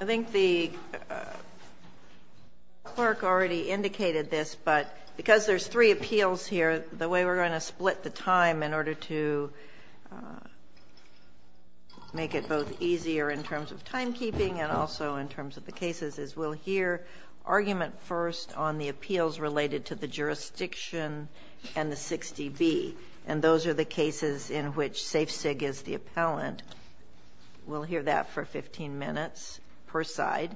I think the clerk already indicated this but because there's three appeals here the way we're going to split the time in order to make it both easier in terms of timekeeping and also in terms of the cases is we'll hear argument first on the appeals related to the jurisdiction and the 60B and those are the cases in which Safe Cig is the appellant. We'll hear that for 15 minutes per side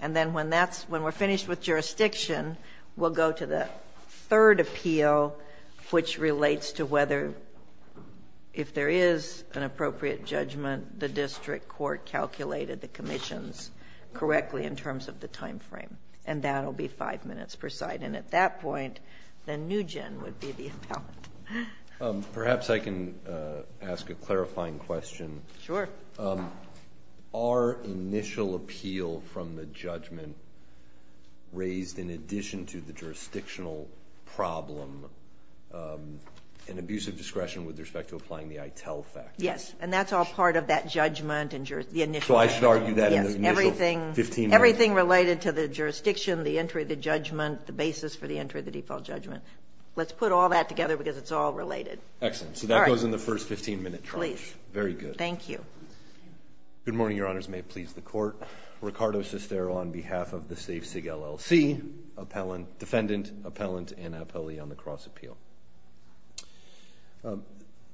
and then when that's when we're finished with jurisdiction we'll go to the third appeal which relates to whether if there is an appropriate judgment the district court calculated the commissions correctly in terms of the time frame and that'll be five minutes per side and at that point the new gen would be the appellant. Perhaps I can ask a clarifying question. Sure. Our initial appeal from the judgment raised in addition to the jurisdictional problem an abuse of discretion with respect to applying the ITEL fact. Yes and that's all part of that judgment and the initial judgment. So I should argue that in the initial 15 minutes. Everything related to the jurisdiction, the entry of the judgment, the basis for the entry of the default judgment. Let's put all that together because it's all related. Excellent. So that goes in the first 15 minute charge. Very good. Thank you. Good morning, your honors. May it please the court. Ricardo Sestero on behalf of the Safe Cig LLC, defendant, appellant, and appellee on the cross appeal.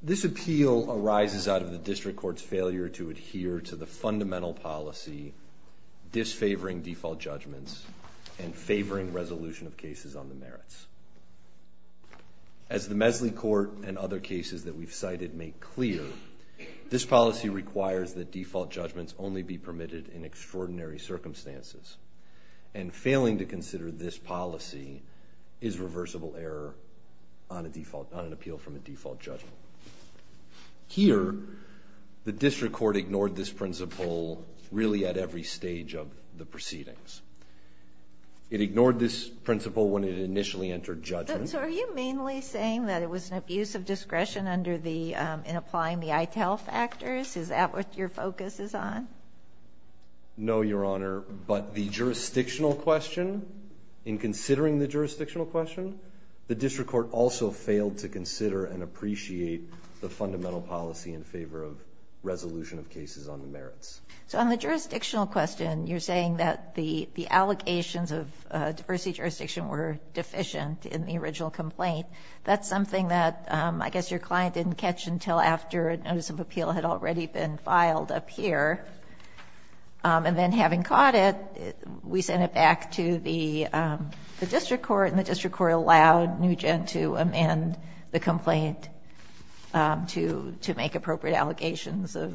This appeal arises out of the district courts failure to adhere to the fundamental policy disfavoring default judgments and favoring resolution of merits. As the Mesley court and other cases that we've cited make clear, this policy requires that default judgments only be permitted in extraordinary circumstances and failing to consider this policy is reversible error on a default on an appeal from a default judgment. Here the district court ignored this principle really at every stage of the proceedings. It ignored this initially entered judgment. So are you mainly saying that it was an abuse of discretion under the in applying the ITEL factors? Is that what your focus is on? No, your honor. But the jurisdictional question, in considering the jurisdictional question, the district court also failed to consider and appreciate the fundamental policy in favor of resolution of cases on the merits. So on the jurisdictional question, you're saying that the the allocations of diversity jurisdiction were deficient in the original complaint. That's something that I guess your client didn't catch until after a notice of appeal had already been filed up here. And then having caught it, we sent it back to the district court and the district court allowed Nugent to amend the complaint to to make appropriate allegations of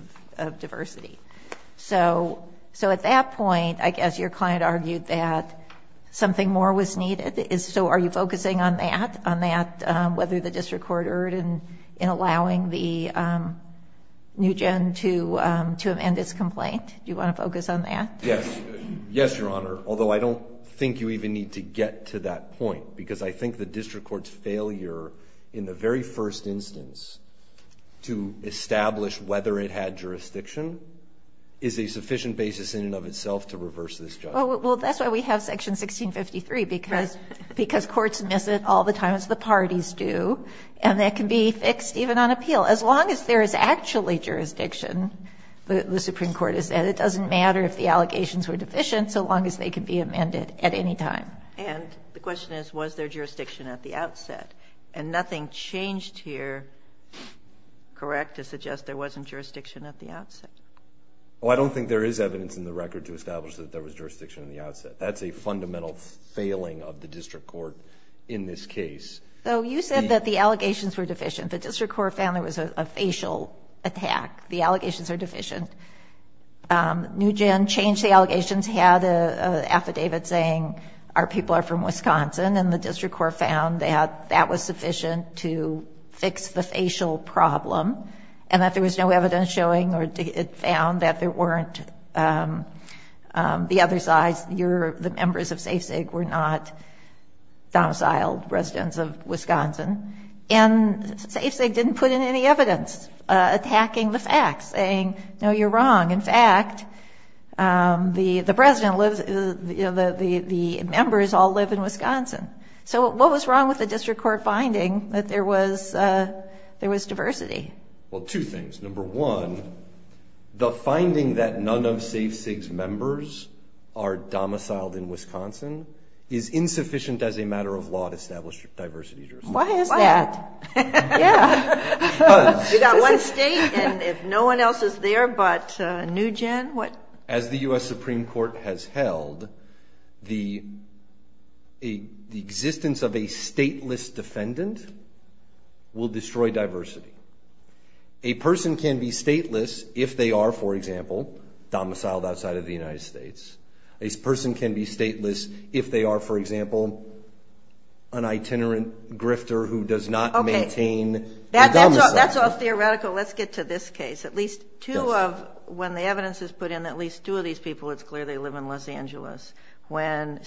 diversity. So so at that I guess your client argued that something more was needed. So are you focusing on that, on that, whether the district court erred in in allowing the Nugent to to amend its complaint? Do you want to focus on that? Yes. Yes, your honor. Although I don't think you even need to get to that point because I think the district court's failure in the very first instance to establish whether it had jurisdiction is a sufficient basis in and of itself to reverse this. Well, that's why we have section 1653 because because courts miss it all the time as the parties do. And that can be fixed even on appeal as long as there is actually jurisdiction. The Supreme Court is that it doesn't matter if the allegations were deficient so long as they could be amended at any time. And the question is, was there jurisdiction at the outset and nothing changed here? Correct. To suggest there was jurisdiction in the outset. Oh, I don't think there is evidence in the record to establish that there was jurisdiction in the outset. That's a fundamental failing of the district court in this case. So you said that the allegations were deficient. The district court found there was a facial attack. The allegations are deficient. Um, Nugent changed the allegations, had a affidavit saying our people are from Wisconsin and the district court found that that was found that there weren't, um, um, the other side's, your, the members of safe sake were not domiciled residents of Wisconsin and safe. They didn't put in any evidence attacking the facts saying, no, you're wrong. In fact, um, the, the president lives, you know, the, the, the members all live in Wisconsin. So what was wrong with the district court finding that there was, uh, there was diversity? Well, two things. Number one, the finding that none of safe SIGS members are domiciled in Wisconsin is insufficient as a matter of law to establish diversity. Why is that? Yeah. You got one state and if no one else is there, but a new gen, what as the U. S. Supreme court has held the, the existence of a stateless defendant will destroy diversity. A person can be stateless if they are, for example, domiciled outside of the United States. A person can be stateless if they are, for example, an itinerant grifter who does not maintain that. That's all theoretical. Let's get to this case. At least two of when the evidence is put in, at least two of these people, it's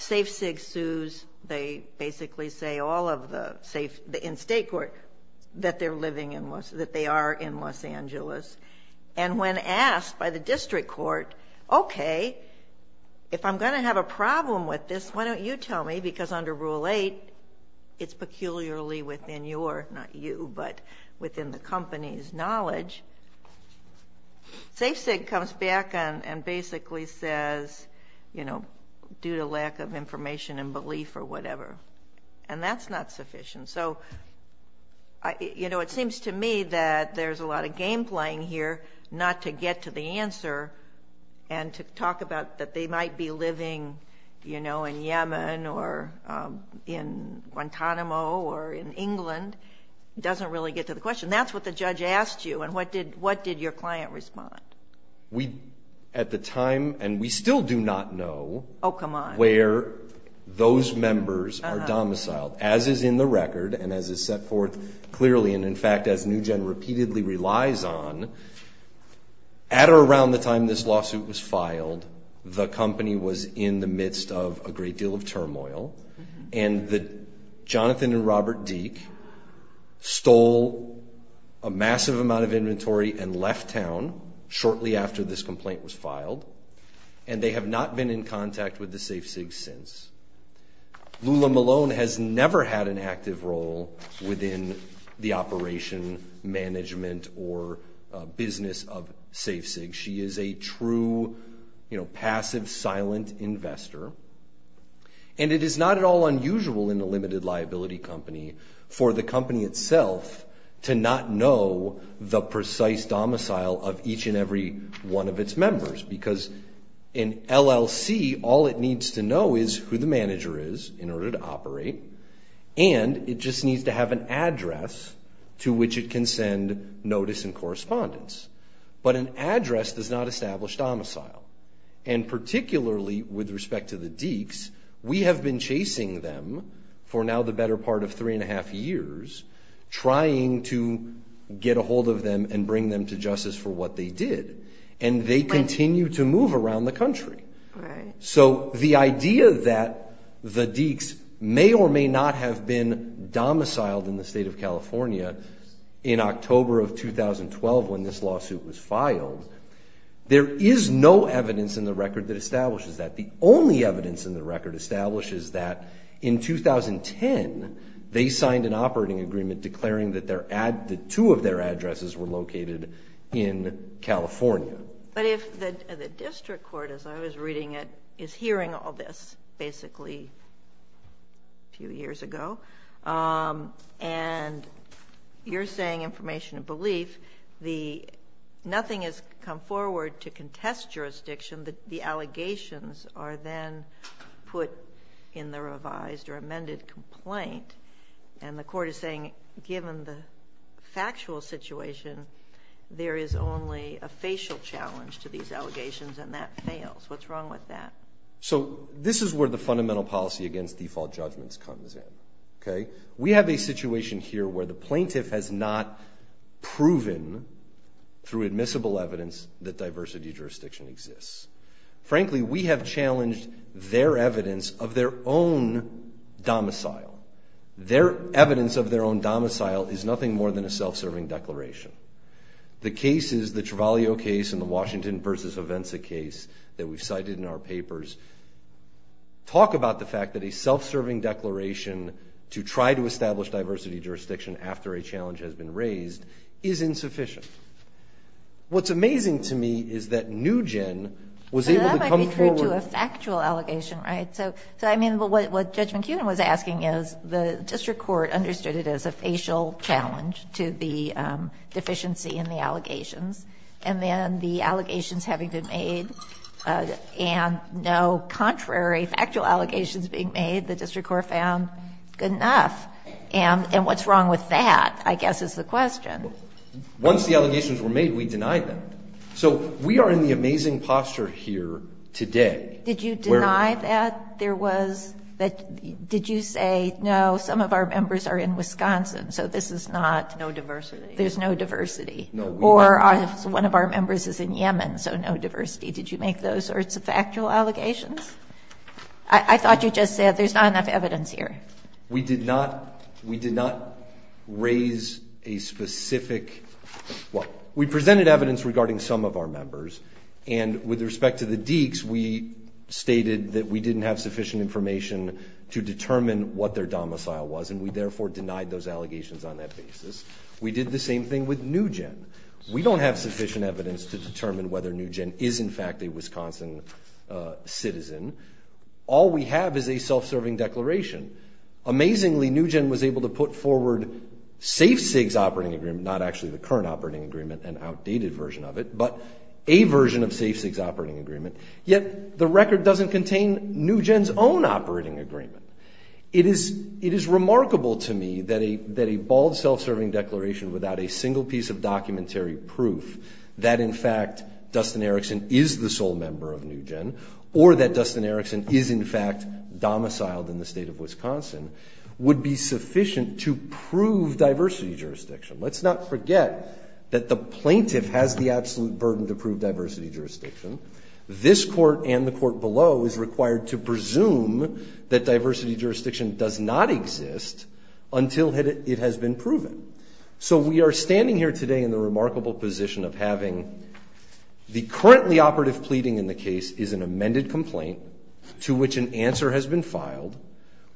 safe SIGS sues. They basically say all of the safe in state court that they're living in Los, that they are in Los Angeles. And when asked by the district court, okay, if I'm going to have a problem with this, why don't you tell me? Because under rule eight, it's peculiarly within your, not you, but within the company's knowledge. Safe SIG comes back and basically says, you have a lack of information and belief or whatever. And that's not sufficient. So I, you know, it seems to me that there's a lot of game playing here, not to get to the answer and to talk about that they might be living, you know, in Yemen or, um, in Guantanamo or in England. It doesn't really get to the question. That's what the judge asked you. And what did, what did your client respond? We, at the time, and we still do not know where those members are domiciled, as is in the record and as is set forth clearly. And in fact, as NewGen repeatedly relies on, at or around the time this lawsuit was filed, the company was in the midst of a great deal of turmoil and that Jonathan and shortly after this complaint was filed and they have not been in contact with the Safe SIG since. Lula Malone has never had an active role within the operation management or a business of Safe SIG. She is a true, you know, passive, silent investor. And it is not at all unusual in a limited liability company for the company itself to not know the precise domicile of each and every one of its members. Because in LLC, all it needs to know is who the manager is in order to operate. And it just needs to have an address to which it can send notice and correspondence. But an address does not establish domicile. And particularly with respect to the Deeks, we have been chasing them for now the better part of three and a half years, trying to get a hold of them and bring them to justice for what they did. And they continue to move around the country. So the idea that the Deeks may or may not have been domiciled in the state of California in October of 2012, when this lawsuit was filed, there is no evidence in the record that establishes that. The only evidence in that, in 2010, they signed an operating agreement declaring that two of their addresses were located in California. But if the district court, as I was reading it, is hearing all this basically a few years ago, and you're saying information of belief, nothing has come out of that. So this is where the fundamental policy against default judgments comes in. We have a situation here where the plaintiff has not proven, through admissible evidence, that diversity jurisdiction exists. Frankly, we have challenged their evidence of their own domicile. Their evidence of their own domicile is nothing more than a self-serving declaration. The cases, the Trevallio case and the Washington versus Avenza case that we've cited in our papers, talk about the fact that a self-serving declaration to try to establish diversity jurisdiction after a challenge has been raised is insufficient. What's amazing to me is that Nugen was able to come forward. But that might be true to a factual allegation, right? So, I mean, what Judge McKeon was asking is the district court understood it as a facial challenge to the deficiency in the allegations, and then the allegations having been made and no contrary factual allegations being made, the district court found good enough. And what's wrong with that, I guess, is the question. Once the allegations were made, we denied them. So we are in the amazing posture here today. Did you deny that there was, that, did you say, no, some of our members are in Wisconsin, so this is not... No diversity. There's no diversity. No, we weren't. Or one of our members is in Yemen, so no diversity. Did you make those sorts of factual allegations? I thought you just said there's not enough evidence here. We did not, we did not raise a specific, well, we presented evidence regarding some of our members, and with respect to the Deeks, we stated that we didn't have sufficient information to determine what their domicile was, and we therefore denied those allegations on that basis. We did the same thing with Nugen. We don't have sufficient evidence to determine whether Nugen is, in fact, a Wisconsin citizen. All we have is a self-serving declaration. Amazingly, Nugen was able to put forward SafeSigs operating agreement, not actually the current operating agreement, an outdated version of it, but a version of SafeSigs operating agreement, yet the record doesn't contain Nugen's own operating agreement. It is, it is remarkable to me that a, that a bald self-serving declaration without a single piece of documentary proof that, in fact, Nugen is the sole member of Nugen, or that Dustin Erickson is, in fact, domiciled in the state of Wisconsin, would be sufficient to prove diversity jurisdiction. Let's not forget that the plaintiff has the absolute burden to prove diversity jurisdiction. This court and the court below is required to presume that diversity jurisdiction does not exist until it, it has been proven. So we are standing here today in the remarkable position of having the currently operative pleading in the case is an amended complaint to which an answer has been filed,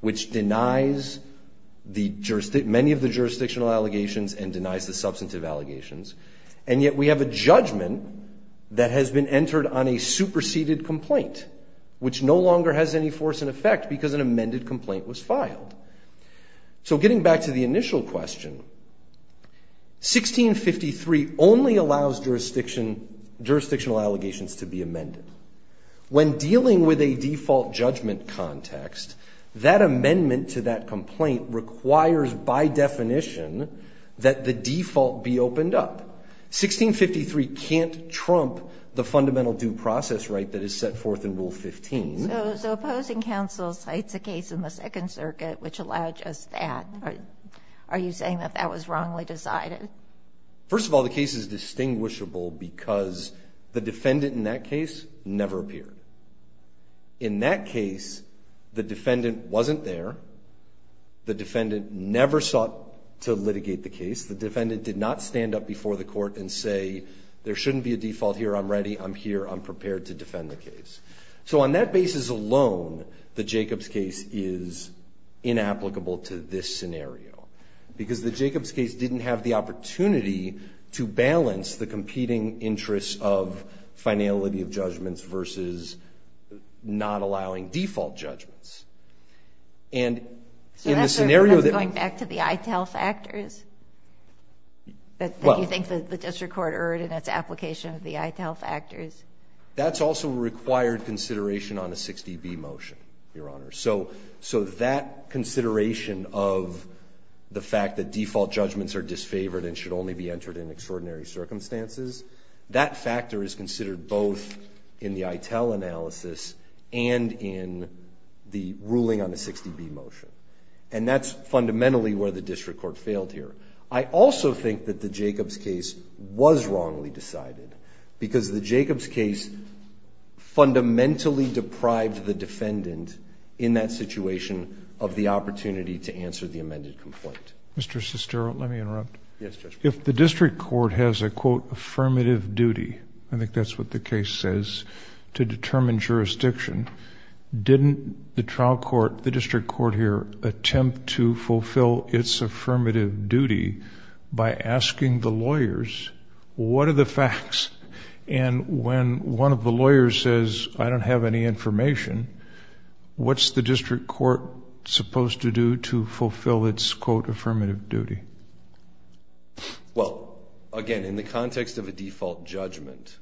which denies the juristic, many of the jurisdictional allegations and denies the substantive allegations. And yet we have a judgment that has been entered on a superseded complaint, which no longer has any force in effect because an amended complaint was filed. So getting back to the initial question, 1653 only allows jurisdiction, jurisdictional allegations to be amended. When dealing with a default judgment context, that amendment to that complaint requires, by definition, that the default be opened up. 1653 can't trump the fundamental due process right that is set forth in Rule 15. So, so opposing counsel cites a case in the Second Circuit which allowed just that. Are you saying that that was indistinguishable because the defendant in that case never appeared? In that case, the defendant wasn't there. The defendant never sought to litigate the case. The defendant did not stand up before the court and say, there shouldn't be a default here. I'm ready. I'm here. I'm prepared to defend the case. So on that basis alone, the Jacobs case is inapplicable to this scenario because the competing interests of finality of judgments versus not allowing default judgments. And in the scenario that we're going back to the ITEL factors that you think the district court erred in its application of the ITEL factors. That's also a required consideration on a 60B motion, Your Honor. So, so that consideration of the fact that default judgments are disfavored and should only be entered in extraordinary circumstances, that factor is considered both in the ITEL analysis and in the ruling on the 60B motion. And that's fundamentally where the district court failed here. I also think that the Jacobs case was wrongly decided because the Jacobs case fundamentally deprived the defendant in that situation of the opportunity to answer the amended complaint. Mr. Sestero, let me interrupt. Yes, Judge. If the district court has a, quote, affirmative duty, I think that's what the case says, to determine jurisdiction, didn't the trial court, the district court here, attempt to fulfill its affirmative duty by asking the lawyers, what are the facts? And when one of the lawyers says, I don't have any information, what's the district court supposed to do to fulfill its, quote, affirmative duty? Well, again, in the context of a default judgment,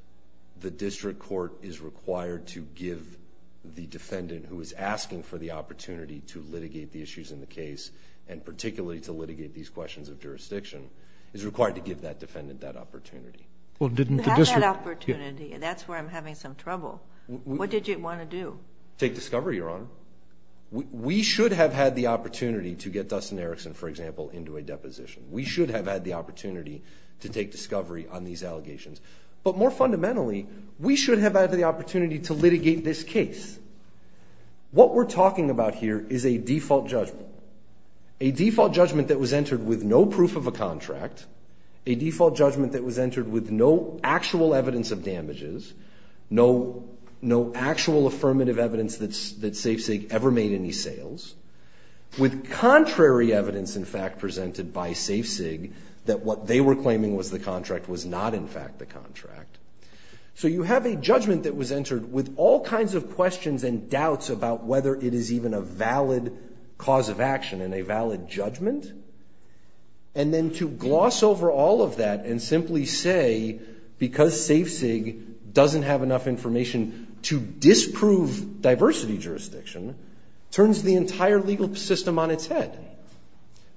the district court is required to give the defendant who is asking for the opportunity to litigate the issues in the case, and particularly to litigate these questions of jurisdiction, is required to give that defendant that opportunity. Well, didn't the district... You have that opportunity. That's where I'm having some trouble. What did you want to do? Take discovery, Your Honor. We should have had the opportunity to get Dustin Erickson, for example, into a deposition. We should have had the opportunity to take discovery on these allegations. But more fundamentally, we should have had the opportunity to litigate this case. What we're talking about here is a default judgment, a default judgment that was entered with no proof of a contract, a default judgment that was entered with no actual evidence of damages, no actual affirmative evidence that SafeSafe ever made any sales, with contrary evidence, in fact, presented by SafeSig that what they were claiming was the contract was not, in fact, the contract. So you have a judgment that was entered with all kinds of questions and doubts about whether it is even a valid cause of action and a valid judgment. And then to gloss over all of that and simply say, because SafeSig doesn't have enough information to disprove diversity jurisdiction, turns the entire legal system on its head.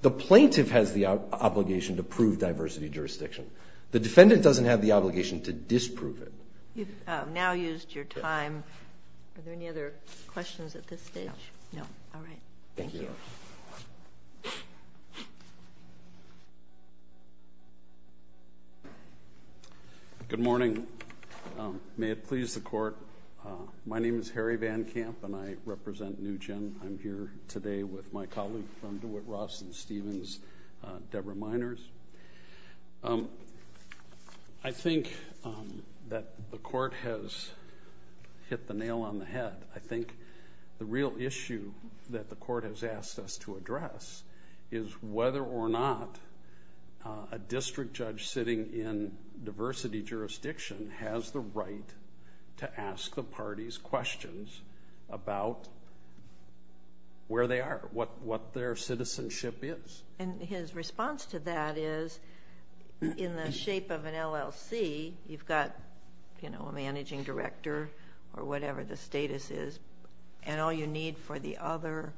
The plaintiff has the obligation to prove diversity jurisdiction. The defendant doesn't have the obligation to disprove it. You've now used your time. Are there any other questions at this stage? No. No. All right. Thank you. Good morning. May it please the court. My name is Harry Van Kamp and I represent NUGEN. I'm here today with my colleague from Dewitt, Ross, and Stevens, Deborah Miners. I think that the court has hit the nail on the head. I think the real issue that the court has asked us to address is whether or not a district judge sitting in diversity jurisdiction has the right to ask the parties questions about where they are, what their citizenship is. And his response to that is, in the shape of an LLC, you've got a managing director or an attorney. All you need for the other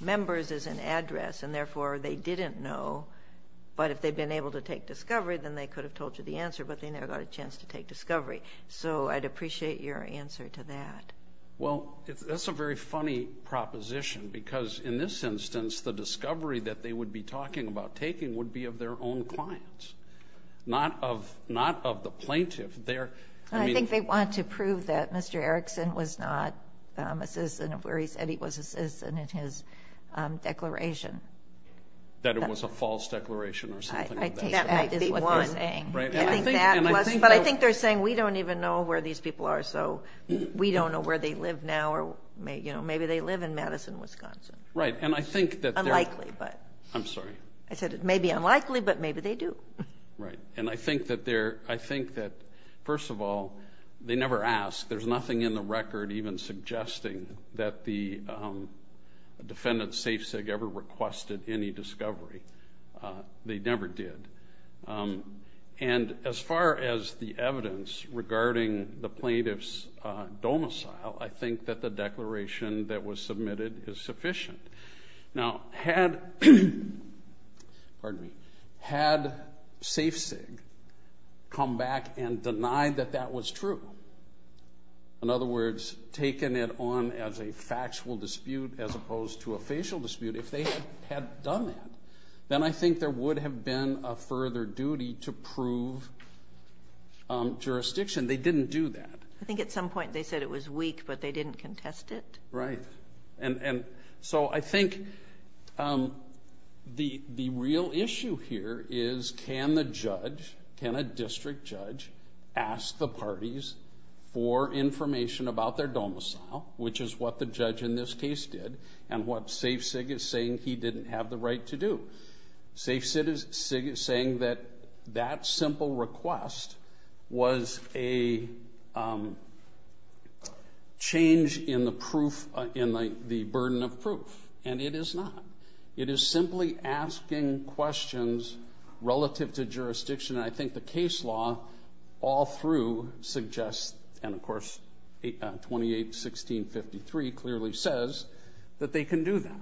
members is an address, and therefore they didn't know. But if they've been able to take discovery, then they could have told you the answer, but they never got a chance to take discovery. So I'd appreciate your answer to that. Well, that's a very funny proposition, because in this instance, the discovery that they would be talking about taking would be of their own clients, not of the plaintiff. I think they want to say that he was a citizen in his declaration. That it was a false declaration or something like that. I think that might be what they're saying. But I think they're saying, we don't even know where these people are, so we don't know where they live now, or maybe they live in Madison, Wisconsin. Right, and I think that... Unlikely, but... I'm sorry. I said it may be unlikely, but maybe they do. Right, and I think that, first of all, they never asked. There's nothing in the record even suggesting that the defendant, Safe-Cig, ever requested any discovery. They never did. And as far as the evidence regarding the plaintiff's domicile, I think that the declaration that was submitted is sufficient. Now, had Safe-Cig come back and had a factual dispute as opposed to a facial dispute, if they had done that, then I think there would have been a further duty to prove jurisdiction. They didn't do that. I think at some point they said it was weak, but they didn't contest it. Right, and so I think the real issue here is, can the judge, can a district judge, ask the parties for information about their domicile, which is what the judge in this case did, and what Safe-Cig is saying he didn't have the right to do. Safe-Cig is saying that that simple request was a change in the proof, in the burden of proof, and it is not. It is simply asking questions relative to jurisdiction. I think the case law, all through, suggests, and of course 28, 16, 53 clearly says, that they can do that.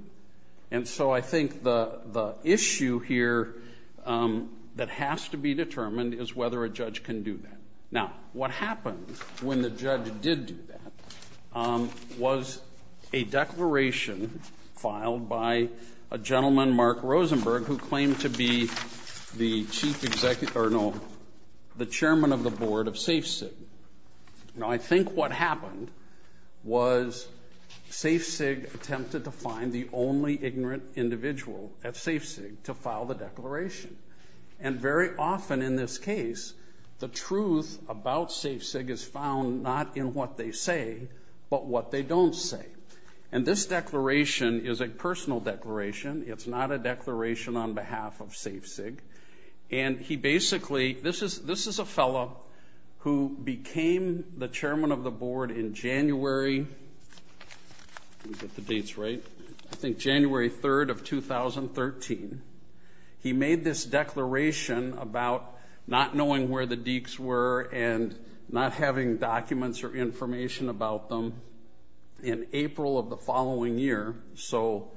And so I think the the issue here that has to be determined is whether a judge can do that. Now, what happened when the judge did do that was a declaration filed by a gentleman, Mark Rosenberg, who claimed to be the chief executive, or no, the chairman of the board of Safe-Cig. Now, I think what happened was Safe-Cig attempted to find the only ignorant individual at Safe-Cig to file the declaration. And very often in this case, the truth about Safe-Cig is found not in what they say, but what they don't say. And this declaration is a personal declaration. It's not a declaration on behalf of Safe-Cig. And he basically, this is a fellow who became the chairman of the board in January, get the dates right, I think January 3rd of 2013, he made this declaration about not knowing where the dekes were and not having documents or information about them in April of the following year. So,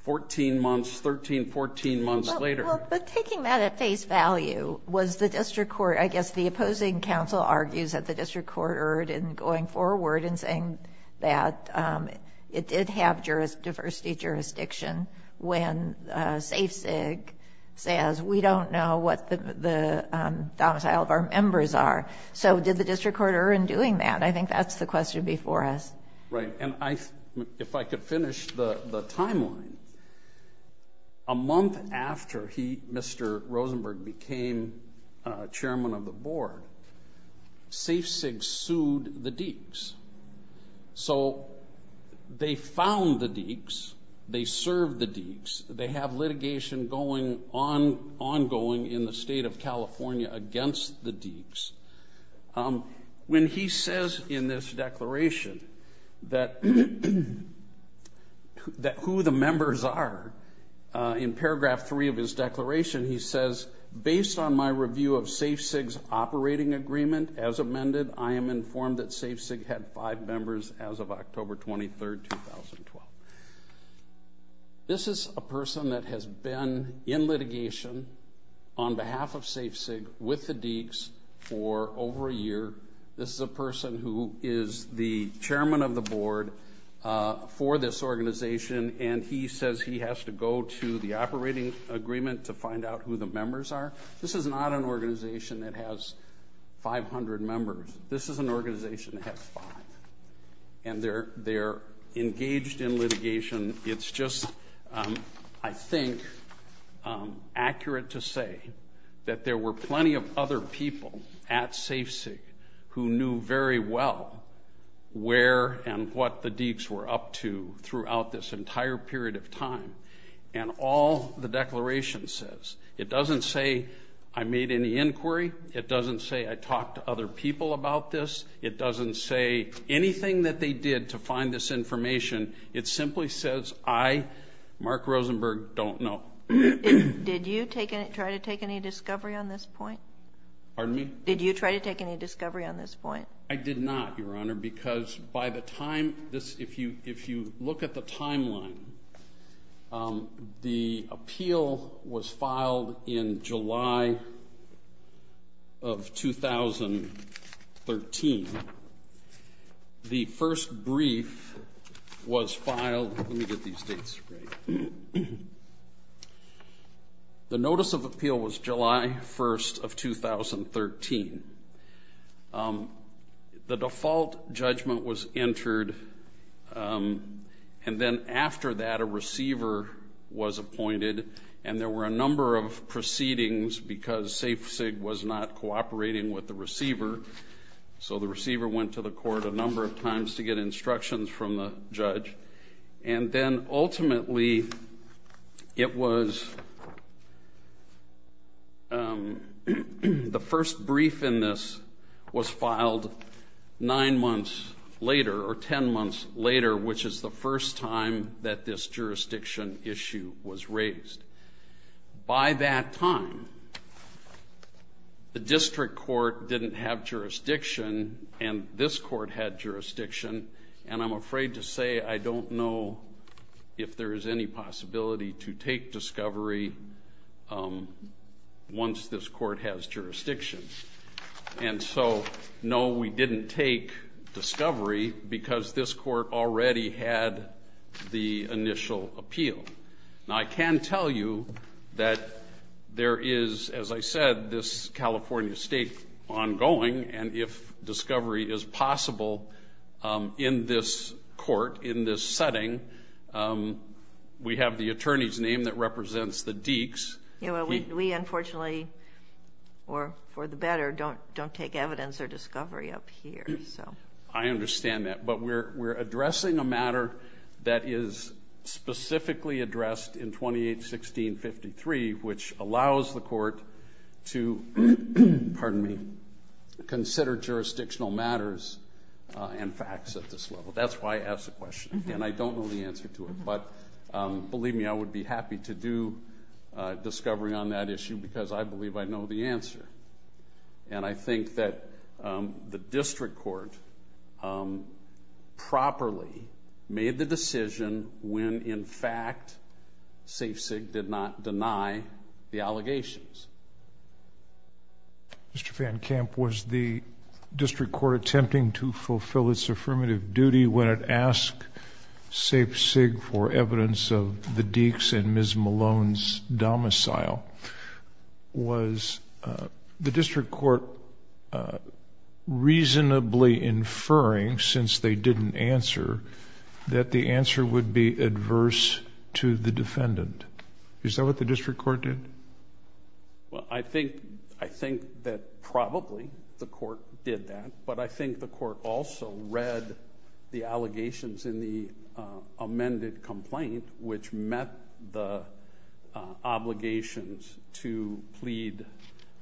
14 months, 13, 14 months later. But taking that at face value, was the district using counsel argues that the district court erred in going forward and saying that it did have diversity jurisdiction when Safe-Cig says, we don't know what the domicile of our members are. So, did the district court err in doing that? I think that's the question before us. Right. And if I could finish the timeline, a month after he, Mr. Rosenberg, became chairman of the board, Safe-Cig sued the dekes. So, they found the dekes, they served the dekes, they have litigation going on ongoing in the state of California against the dekes. When he says in this declaration that who the members are, in paragraph 3 of his declaration, he says, based on my review of Safe-Cig's operating agreement as amended, I am informed that Safe-Cig had 5 members as of October 23rd, 2012. This is a person that has been in litigation on behalf of Safe-Cig with the dekes for over a year. This is a person who is the chairman of the board for this organization and he says he has to go to the operating agreement to find out who the members are. This is not an organization that has 500 members. This is an organization that has five. And they're engaged in litigation. It's just, I think, accurate to say that there were plenty of other people at Safe-Cig who knew very well where and what the dekes were up to throughout this entire period of time. And all the declaration says, it doesn't say I made any inquiry, it doesn't say I talked to other people about this, it doesn't say anything that they did to find this information. It simply says I, Mark Rosenberg, don't know. Did you try to take any discovery on this point? Pardon me? Did you try to take any discovery on this point? I did not, Your Honor, because by the time this, if you look at the timeline, the appeal was filed in July of 2013. The first brief was filed, let me get these dates right, the notice of appeal was July 1st of 2013. The default judgment was entered and then after that a receiver was appointed and there were a number of proceedings because Safe-Cig was not cooperating with the receiver. So the receiver went to the court a number of times to get instructions from the judge and then ultimately it was, the first brief in this was filed nine months later or ten months later, which is the first time that this jurisdiction issue was raised. By that time, the district court didn't have jurisdiction and this court had jurisdiction and I'm afraid to say I don't know if there is any possibility to take discovery once this court has jurisdiction. And so no, we didn't take discovery because this court already had the initial appeal. Now I can tell you that there is, as I said, this California State ongoing and if discovery is possible in this court, in this setting, we have the attorney's name that represents the Deeks. We unfortunately, or for the better, don't take evidence or discovery up here. I understand that, but we're addressing a matter that is specifically addressed in to consider jurisdictional matters and facts at this level. That's why I ask the question and I don't know the answer to it, but believe me, I would be happy to do discovery on that issue because I believe I know the answer. And I think that the district court properly made the decision when, in fact, Safe-Cig did not deny the allegations. Mr. Van Kamp, was the district court attempting to fulfill its affirmative duty when it asked Safe-Cig for evidence of the Deeks and Ms. Malone's domicile? Was the district court reasonably inferring, since they didn't answer, that the answer would be adverse to the defendant? Is that what the district court did? Well, I think that probably the court did that, but I think the court also read the allegations in the amended complaint, which met the obligations to plead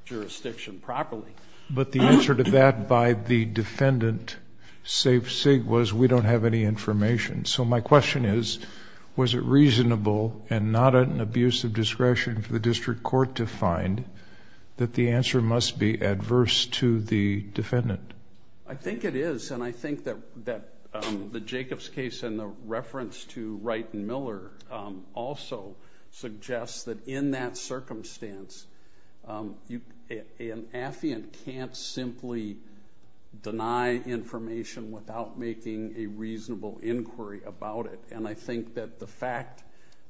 jurisdiction properly. But the answer to that by the defendant, Safe-Cig, was we don't have any information. So my question is, was it reasonable and not an abuse of discretion for the district court to find that the answer must be adverse to the defendant? I think it is. And I think that the Jacobs case and the reference to Wright and Miller also suggests that in that circumstance, an affiant can't simply deny information without making a reasonable inquiry about it. And I think that the fact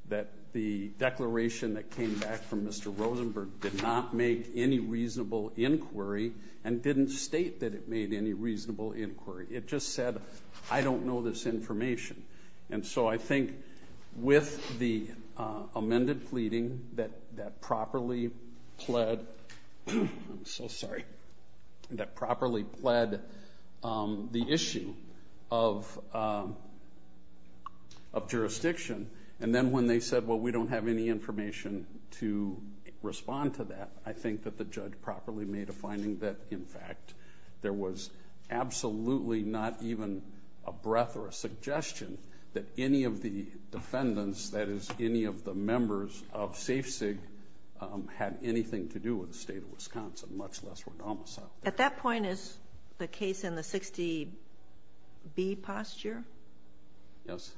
that the declaration that came back from Mr. Rosenberg did not make any reasonable inquiry and didn't state that it made any reasonable inquiry. It just said, I don't know this information. And so I think with the plead, the issue of jurisdiction, and then when they said, well, we don't have any information to respond to that, I think that the judge properly made a finding that, in fact, there was absolutely not even a breath or a suggestion that any of the defendants, that is, any of the members of Safe-Cig had anything to do with the state of Wisconsin, much less with Omasa. At that point, is the case in the 60-B posture? Yes.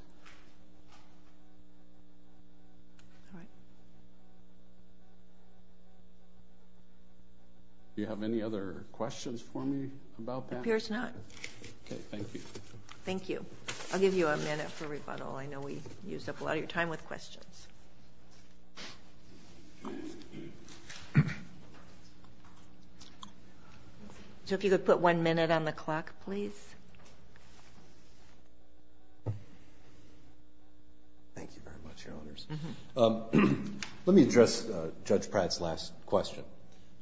Do you have any other questions for me about that? Appears not. Okay, thank you. Thank you. I'll give you a minute for rebuttal. I know we used up a lot of your time with questions. So if you could put one minute on the clock, please. Thank you very much, Your Honors. Let me address Judge Pratt's last question.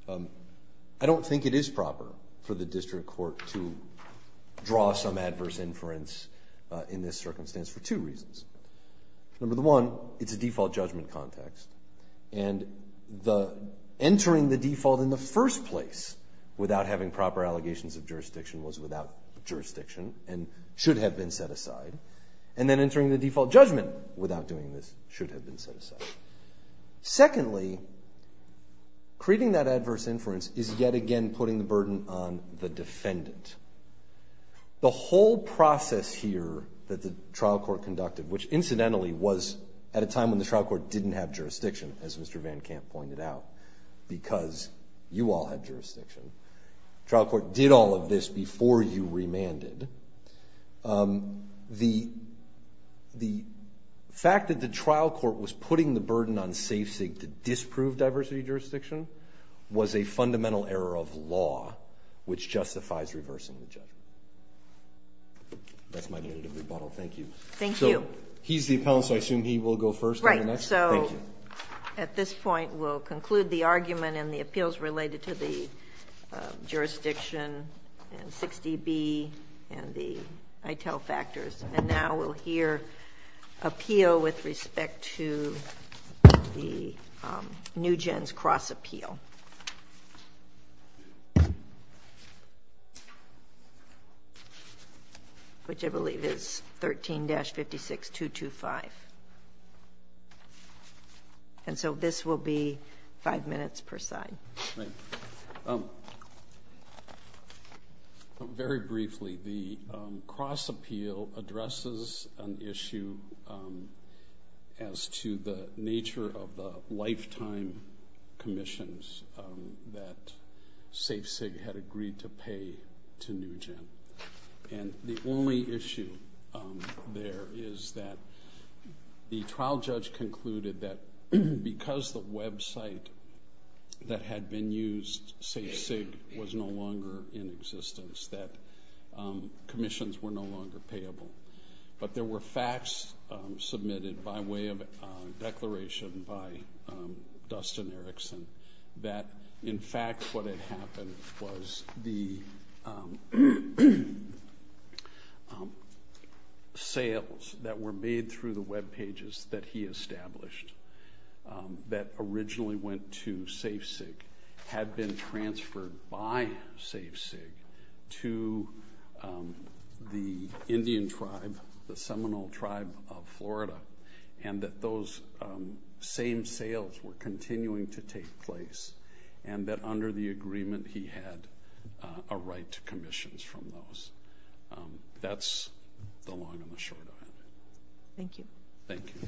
I don't think it is proper for the district court to draw some adverse inference in this circumstance for two reasons. Number one, it's a default judgment context. And entering the default in the first place without having proper allegations of jurisdiction was without jurisdiction and should have been set aside. And then entering the default judgment without doing this should have been set aside. Secondly, creating that adverse inference is yet again putting the burden on the defendant. The whole process here that the trial court didn't have jurisdiction, as Mr. Van Kamp pointed out, because you all had jurisdiction. Trial court did all of this before you remanded. The fact that the trial court was putting the burden on SafeSig to disprove diversity jurisdiction was a fundamental error of law, which justifies reversing the judgment. That's my minute of rebuttal. Thank you. Thank you. He's the appellant, so I assume he will go first. Right. So at this point, we'll conclude the argument and the appeals related to the jurisdiction and 6dB and the ITEL factors. And now we'll hear appeal with respect to the New Gens cross appeal, which I believe is 13-56-225. And so this will be five minutes per side. Right. Very briefly, the cross appeal addresses an issue as to the nature of the lifetime commissions that SafeSig had agreed to pay to New Gen. And the only issue there is that the trial judge concluded that because the website that had been used, SafeSig, was no longer in existence, that commissions were no longer payable. But there were facts submitted by way of a declaration by Dustin Erickson that in fact what had happened was the sales that were made through the web pages that he established that originally went to SafeSig had been transferred by SafeSig to the Indian tribe, the Seminole tribe of Florida, and that those same sales were continuing to take place and that under the agreement he had a right to commissions from those. That's the long and the short of it. Thank you. Thank you.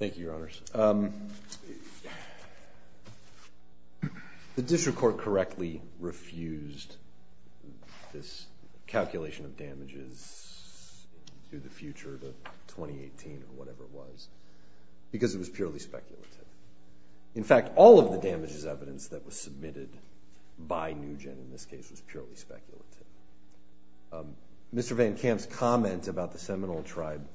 Thank you, Your Honors. The district court correctly refused this calculation of damages through the future, the 2018 or whatever it was, because it was that was submitted by New Gen in this case was purely speculative. Mr. Van Kamp's comment about the Seminole tribe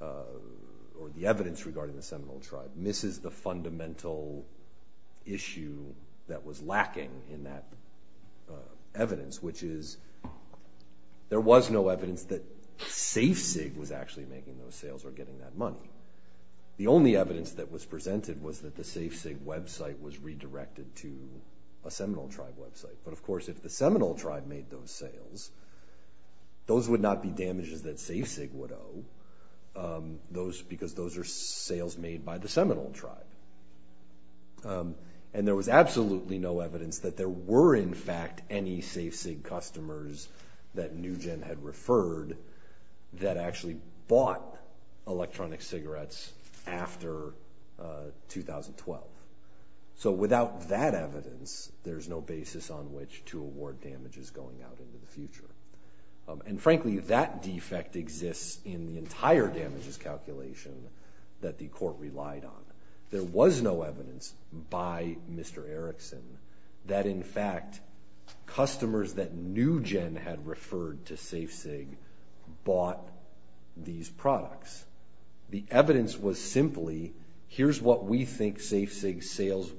or the evidence regarding the Seminole tribe misses the fundamental issue that was lacking in that evidence, which is there was no evidence that SafeSig was actually making those sales or getting that money. The only evidence that was presented was that the SafeSig website was redirected to a Seminole tribe website, but of course if the Seminole tribe made those sales, those would not be damages that SafeSig would owe those because those are sales made by the Seminole tribe. And there was absolutely no evidence that there were in fact any SafeSig customers that New Gen had So without that evidence, there's no basis on which to award damages going out into the future. And frankly, that defect exists in the entire damages calculation that the court relied on. There was no evidence by Mr. Erickson that in fact customers that New Gen had referred to SafeSig bought these were, or here's what we think SafeSig sales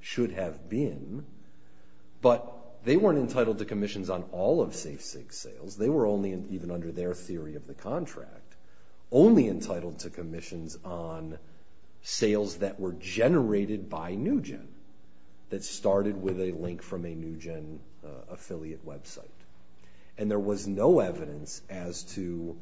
should have been, but they weren't entitled to commissions on all of SafeSig sales. They were only, even under their theory of the contract, only entitled to commissions on sales that were generated by New Gen that started with a link from a New Gen affiliate website. And there was no evidence as to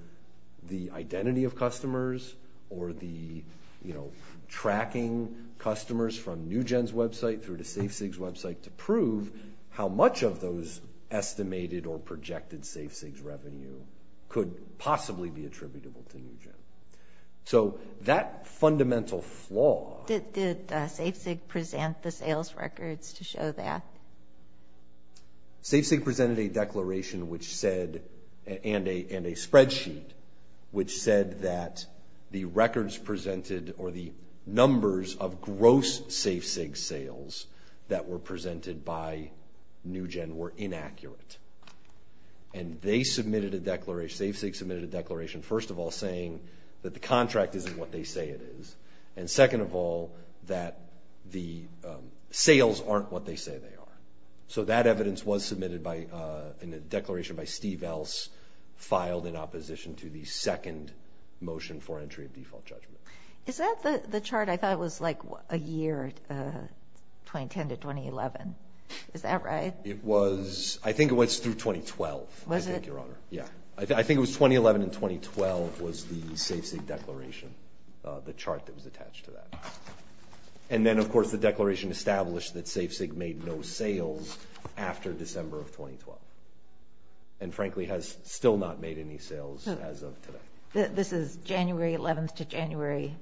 the identity of customers or the, you know, tracking customers from New Gen's website through to SafeSig's website to prove how much of those estimated or projected SafeSig's revenue could possibly be attributable to New Gen. So that fundamental flaw... Did SafeSig present the sales records to show that? SafeSig presented a declaration which said, and a spreadsheet, which said that the records presented, or the numbers of gross SafeSig sales that were presented by New Gen were inaccurate. And they submitted a declaration, SafeSig submitted a declaration, first of all saying that the contract isn't what they say it is, and second of all that the sales aren't what they say they are. So that evidence was submitted by, in a declaration by Steve Else, filed in opposition to the second motion for entry of default judgment. Is that the chart I thought was like a year, 2010 to 2011? Is that right? It was, I think it went through 2012, I think, Your Honor. Yeah, I think it was 2011 and 2012 was the SafeSig declaration, the chart that was attached to that. And then, of course, the declaration established that SafeSig made no sales after December of 2012, and frankly has still not made any sales as of today. This is January 11th to January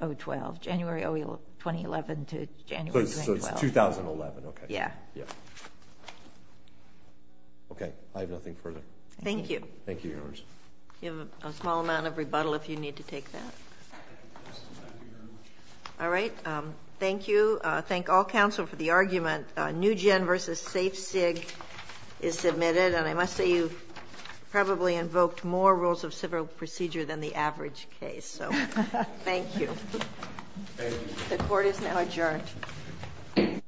2012, January 2011 to January 2012. So it's 2011, okay. Yeah. Okay, I have nothing further. Thank you. Thank you, Your Honor. You have a small amount of rebuttal if you need to take that. All right, thank you. Thank all counsel for the argument. New Gen versus SafeSig is submitted, and I must say you've probably invoked more rules of civil procedure than the average case, so thank you. The court is now adjourned. Thank you.